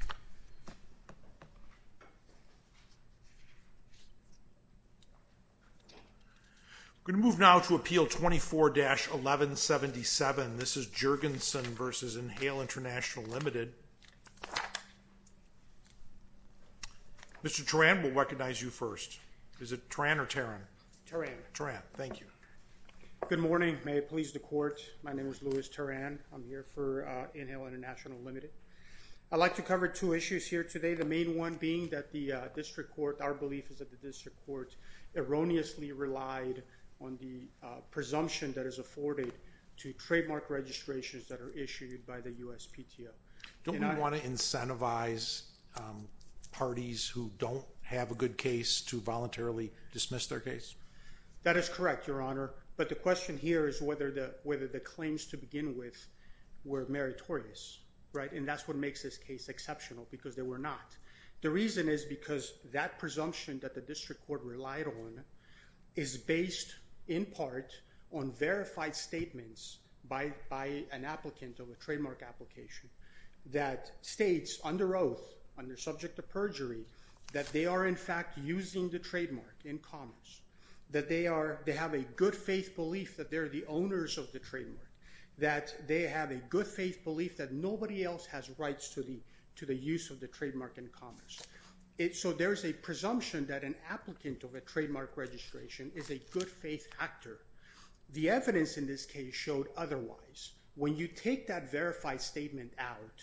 I'm going to move now to Appeal 24-1177. This is Jergenson v. Inhale International Limited. Mr. Teran, we'll recognize you first. Is it Teran or Teran? Teran. Teran, thank you. Good morning. May it please the Court, my name is Louis Teran. I'm here for Inhale International Limited. I'd like to cover two issues here today, the main one being that the District Court, our belief is that the District Court erroneously relied on the presumption that is afforded to trademark registrations that are issued by the USPTO. Don't we want to incentivize parties who don't have a good case to voluntarily dismiss their case? That is correct, Your Honor, but the question here is whether the claims to begin with were meritorious, and that's what makes this case exceptional, because they were not. The reason is because that presumption that the District Court relied on is based in part on verified statements by an applicant of a trademark application that states under oath, under subject of perjury, that they are in fact using the trademark in commerce, that they have a good faith belief that they're the owners of the trademark, that they have a good faith belief that nobody else has rights to the use of the trademark in commerce. So there's a presumption that an applicant of a trademark registration is a good faith actor. The evidence in this case showed otherwise. When you take that verified statement out,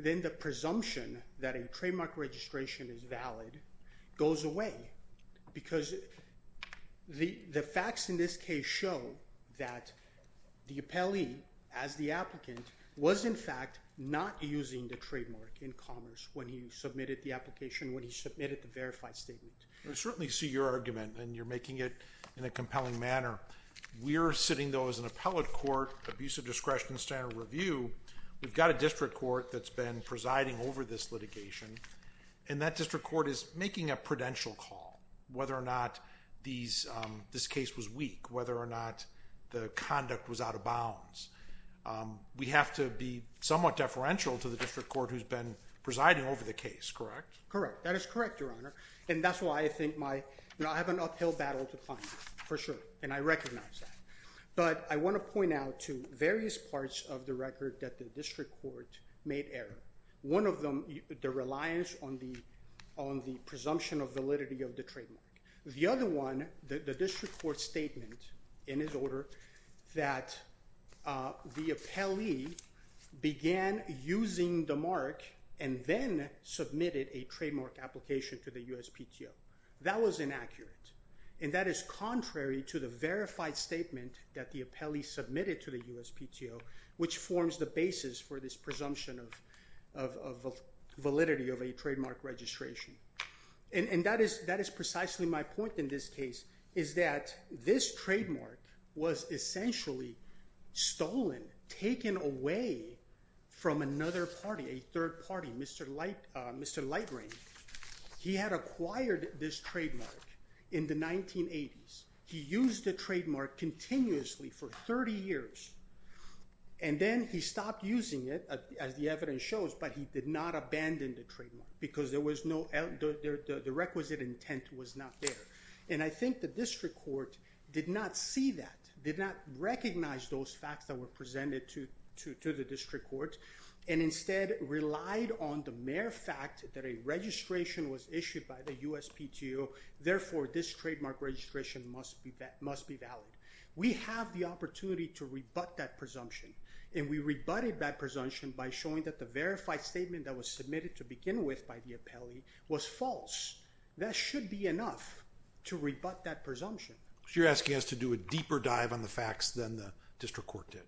then the presumption that a trademark registration is valid goes away, because the facts in this case show that the appellee, as the applicant, was in fact not using the trademark in commerce when he submitted the application, when he submitted the verified statement. I certainly see your argument, and you're making it in a compelling manner. We're sitting, though, as an appellate court, abuse of discretion, standard review. We've got a District Court that's been presiding over this litigation, and that District Court is making a prudential call whether or not this case was weak, whether or not the conduct was out of bounds. We have to be somewhat deferential to the District Court who's been presiding over the case, correct? Correct. That is correct, Your Honor, and that's why I think my, you know, I have an uphill battle to fight, for sure, and I recognize that. But I want to point out to various parts of the record that the District Court made error. One of them, the reliance on the presumption of validity of the trademark. The other one, the District Court statement, in its order, that the appellee began using the mark and then submitted a trademark application to the USPTO. That was inaccurate, and that is contrary to the verified statement that the appellee submitted to the USPTO, which forms the basis for this presumption of validity of a trademark registration. And that is precisely my point in this case, is that this trademark was essentially stolen, taken away from another party, a third party, Mr. Light Rain. He had acquired this trademark in the 1980s. He used the trademark continuously for 30 years, and then he stopped using it, as the evidence shows, but he did not abandon the trademark because there was no, the requisite intent was not there. And I think the District Court did not see that, did not recognize those facts that were presented to the District Court, and instead relied on the mere fact that a registration was issued by the USPTO, therefore this trademark registration must be valid. We have the opportunity to rebut that presumption, and we rebutted that presumption by showing that the verified statement that was submitted to begin with by the appellee was false. That should be enough to rebut that presumption. So you're asking us to do a deeper dive on the facts than the District Court did?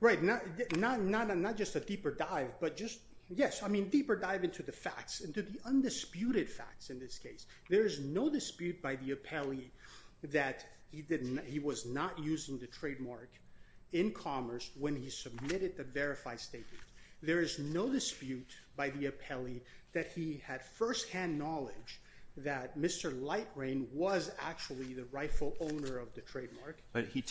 Right, not just a deeper dive, but just, yes, I mean, deeper dive into the facts, into the undisputed facts in this case. There is no dispute by the appellee that he was not using the trademark in commerce when he submitted the verified statement. There is no dispute by the appellee that he had first-hand knowledge that Mr. Lightrain was actually the rightful owner of the trademark. But he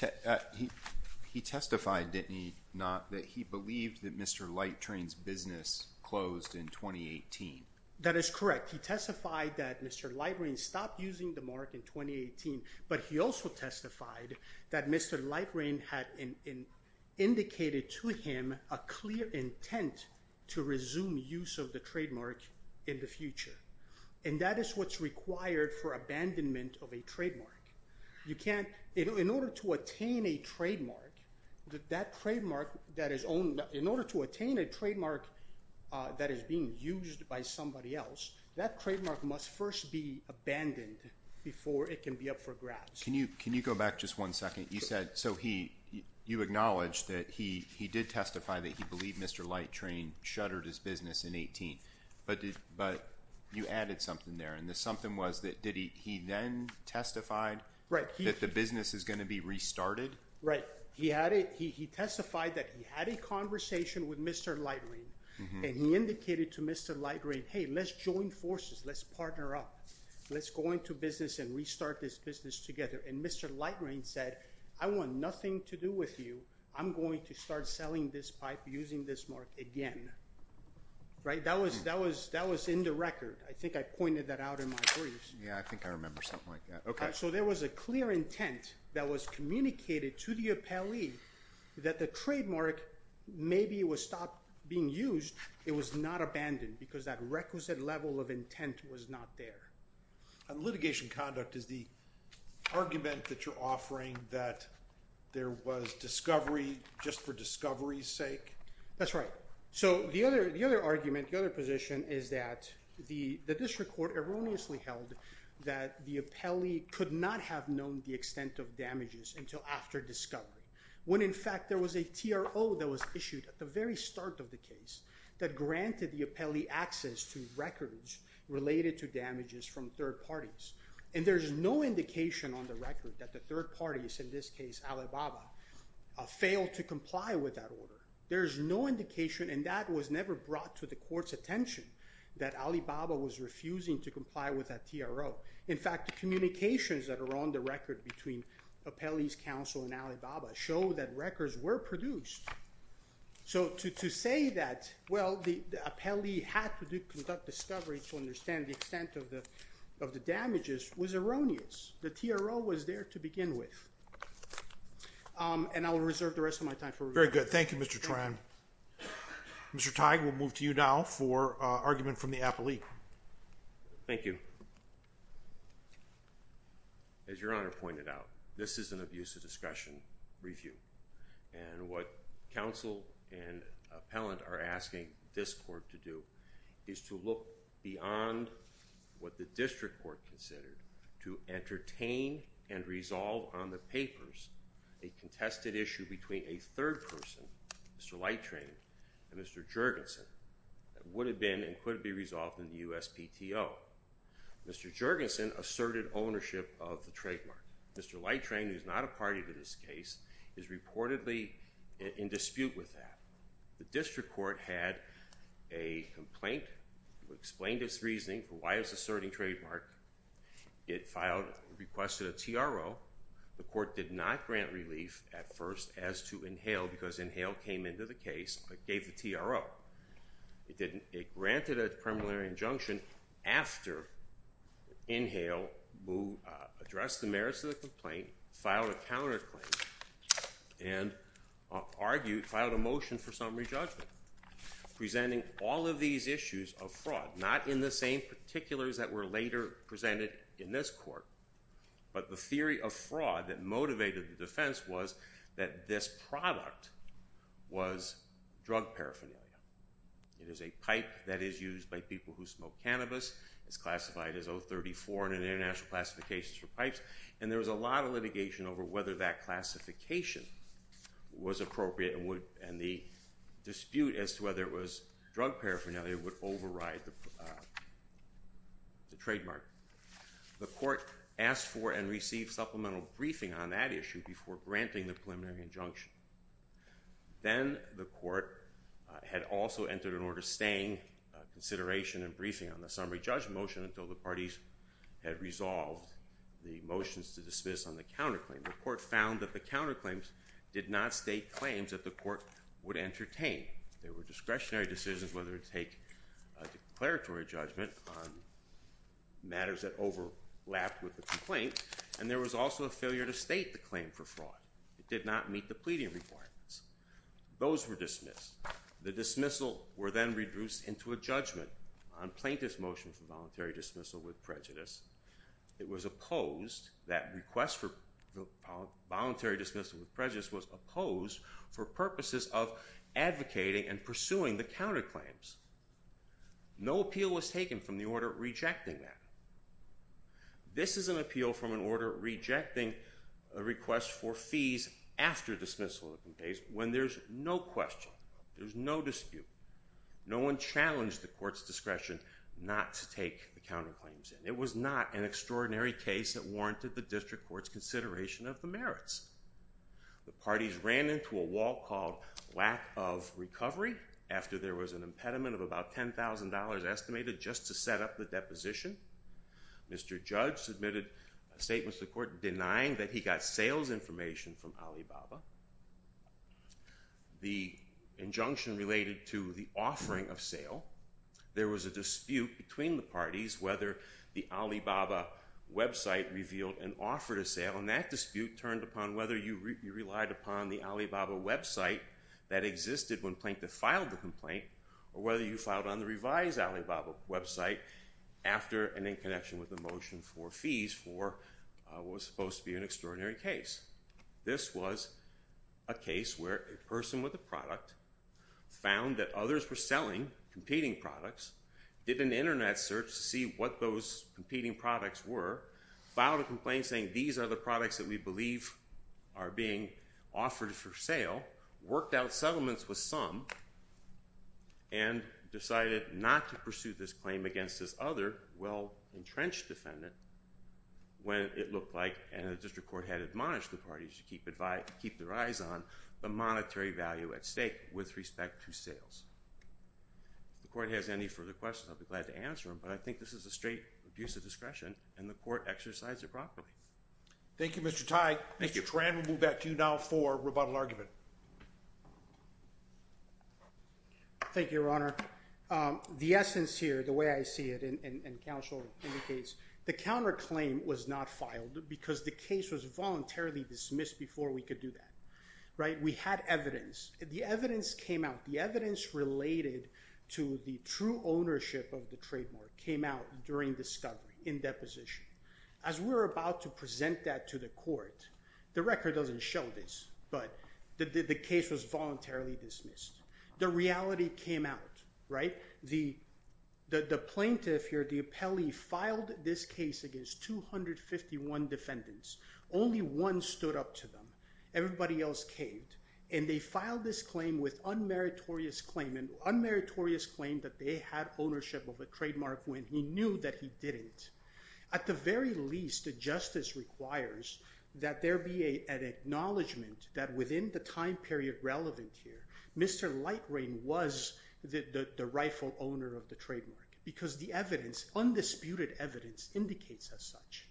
testified, didn't he, that he believed that Mr. Lightrain's business closed in 2018? That is correct. He testified that Mr. Lightrain stopped using the mark in 2018, but he also testified that Mr. Lightrain had indicated to him a clear intent to resume use of the trademark in the future. And that is what's required for abandonment of a trademark. You can't, in order to attain a trademark, that trademark that is owned, in order to attain a trademark that is being used by somebody else, that trademark must first be abandoned before it can be up for grabs. Can you go back just one second? You said, so he, you acknowledged that he did testify that he believed Mr. Lightrain shuttered his business in 2018, but you added something there and the something was that, did he then testify that the business is going to be restarted? Right. He had it, he testified that he had a conversation with Mr. Lightrain and he indicated to Mr. Lightrain, hey, let's join forces. Let's partner up. Let's go into business and restart this business together. And Mr. Lightrain said, I want nothing to do with you. I'm going to start selling this pipe using this mark again. Right. That was, that was, that was in the record. I think I pointed that out in my briefs. Yeah, I think I remember something like that. Okay. So there was a clear intent that was communicated to the appellee that the trademark, maybe it was stopped being used. It was not abandoned because that requisite level of intent was not there. Litigation conduct is the argument that you're offering that there was discovery just for discovery's sake. That's right. So the other, the other argument, the other position is that the district court erroneously held that the appellee could not have known the extent of damages until after discovery when in fact there was a TRO that was issued at the very start of the case that granted the appellee access to records related to damages from third parties. And there's no indication on the record that the third parties, in this case Alibaba, failed to comply with that order. There's no indication and that was never brought to the court's attention that Alibaba was refusing to comply with that TRO. In fact, the communications that are on the record between appellee's counsel and Alibaba show that records were produced. So to, to say that, well, the appellee had to do conduct discovery to understand the extent of the, of the damages was erroneous. The TRO was there to begin with. Um, and I will reserve the rest of my time. Very good. Thank you, Mr. Tran. Mr. Tighe, we'll move to you now for a argument from the appellee. Thank you. As your Honor pointed out, this is an abuse of discretion review. And what counsel and appellant are asking this court to do is to look beyond what the district court considered to entertain and resolve on the papers, a contested issue between a third person, Mr. Lightrain and Mr. Jergensen, that would have been and could be resolved in the USPTO. Mr. Jergensen asserted ownership of the trademark. Mr. Lightrain, who's not a party to this case, is reportedly in dispute with that. The district court had a complaint who explained its reasoning for why it was asserting trademark. It filed, requested a TRO. The court did not grant relief at first as to Inhale, because Inhale came into the case, gave the TRO. It didn't. It granted a preliminary injunction after Inhale addressed the merits of the complaint, filed a counterclaim, and argued, filed a motion for summary judgment, presenting all of these issues of fraud, not in the same particulars that were later presented in this court, but the theory of fraud that motivated the defense was that this product was drug paraphernalia. It is a pipe that is used by people who smoke cannabis. It's classified as 034 in an international classification for pipes, and there was a lot of litigation over whether that classification was appropriate and the dispute as to whether it was drug paraphernalia would override the trademark. The court asked for and received supplemental briefing on that issue before granting the preliminary injunction. Then the court had also entered an order staying consideration and briefing on the summary judgment motion until the parties had resolved the motions to dismiss on the counterclaim. The court found that the counterclaims did not state claims that the court would entertain. There were discretionary decisions whether to take a declaratory judgment on matters that overlapped with the complaint, and there was also a failure to state the claim for fraud. It did not meet the pleading requirements. Those were dismissed. The dismissal were then reduced into a judgment on plaintiff's motion for voluntary dismissal with prejudice. It was opposed, that request for voluntary dismissal with prejudice was opposed for purposes of advocating and pursuing the counterclaims. No appeal was taken from the order rejecting that. This is an appeal from an order rejecting a request for fees after dismissal of the case when there's no question, there's no dispute, no one challenged the court's discretion not to take the counterclaims. It was not an extraordinary case that warranted the district court's consideration of the merits. The parties ran into a wall called lack of recovery after there was an impediment of about $10,000 estimated just to set up the deposition. Mr. Judge submitted a statement to the court denying that he got sales information from Alibaba. The injunction related to the offering of sale. There was a dispute between the parties whether the Alibaba website revealed an offer to sale, and that dispute turned upon whether you relied upon the Alibaba website that existed when plaintiff filed the complaint, or whether you filed on the revised Alibaba website after and in connection with the motion for fees for what was supposed to be an extraordinary case. This was a case where a person with a product found that others were selling competing products, did an internet search to see what those competing products were, filed a complaint saying these are the products that we believe are being offered for sale, worked out settlements with some, and decided not to pursue this claim against this other well-entrenched defendant when it looked like, and the district court had admonished the parties to keep their eyes on, the monetary value at stake with respect to sales. If the court has any further questions, I'll be glad to answer them, but I think this is a straight abuse of discretion, and the court exercised it properly. Thank you, Mr. Tighe. Mr. Tran, we'll move back to you now for rebuttal argument. Thank you, Your Honor. The essence here, the way I see it, and counsel indicates, the counterclaim was not filed because the case was voluntarily dismissed before we could do that, right? We had evidence. The evidence came out. The evidence related to the true ownership of the trademark came out during discovery, in deposition. As we're about to present that to the court, the record doesn't show this, but the case was voluntarily dismissed. The reality came out, right? The plaintiff here, the appellee filed this case against 251 defendants. Only one stood up to them. Everybody else caved, and they filed this claim with unmeritorious claim, an unmeritorious claim that they had ownership of a trademark when he knew that he didn't. At the very least, the justice requires that there be an acknowledgment that within the time period relevant here, Mr. Lightrain was the rightful owner of the trademark, because the evidence, undisputed evidence, indicates as such.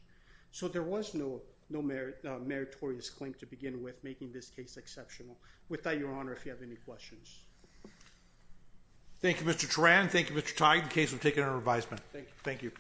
So there was no meritorious claim to begin with, making this case exceptional. With that, Your Honor, if you have any questions. Thank you, Mr. Turan. Thank you, Mr. Tide, in case of taking a revisement. Thank you.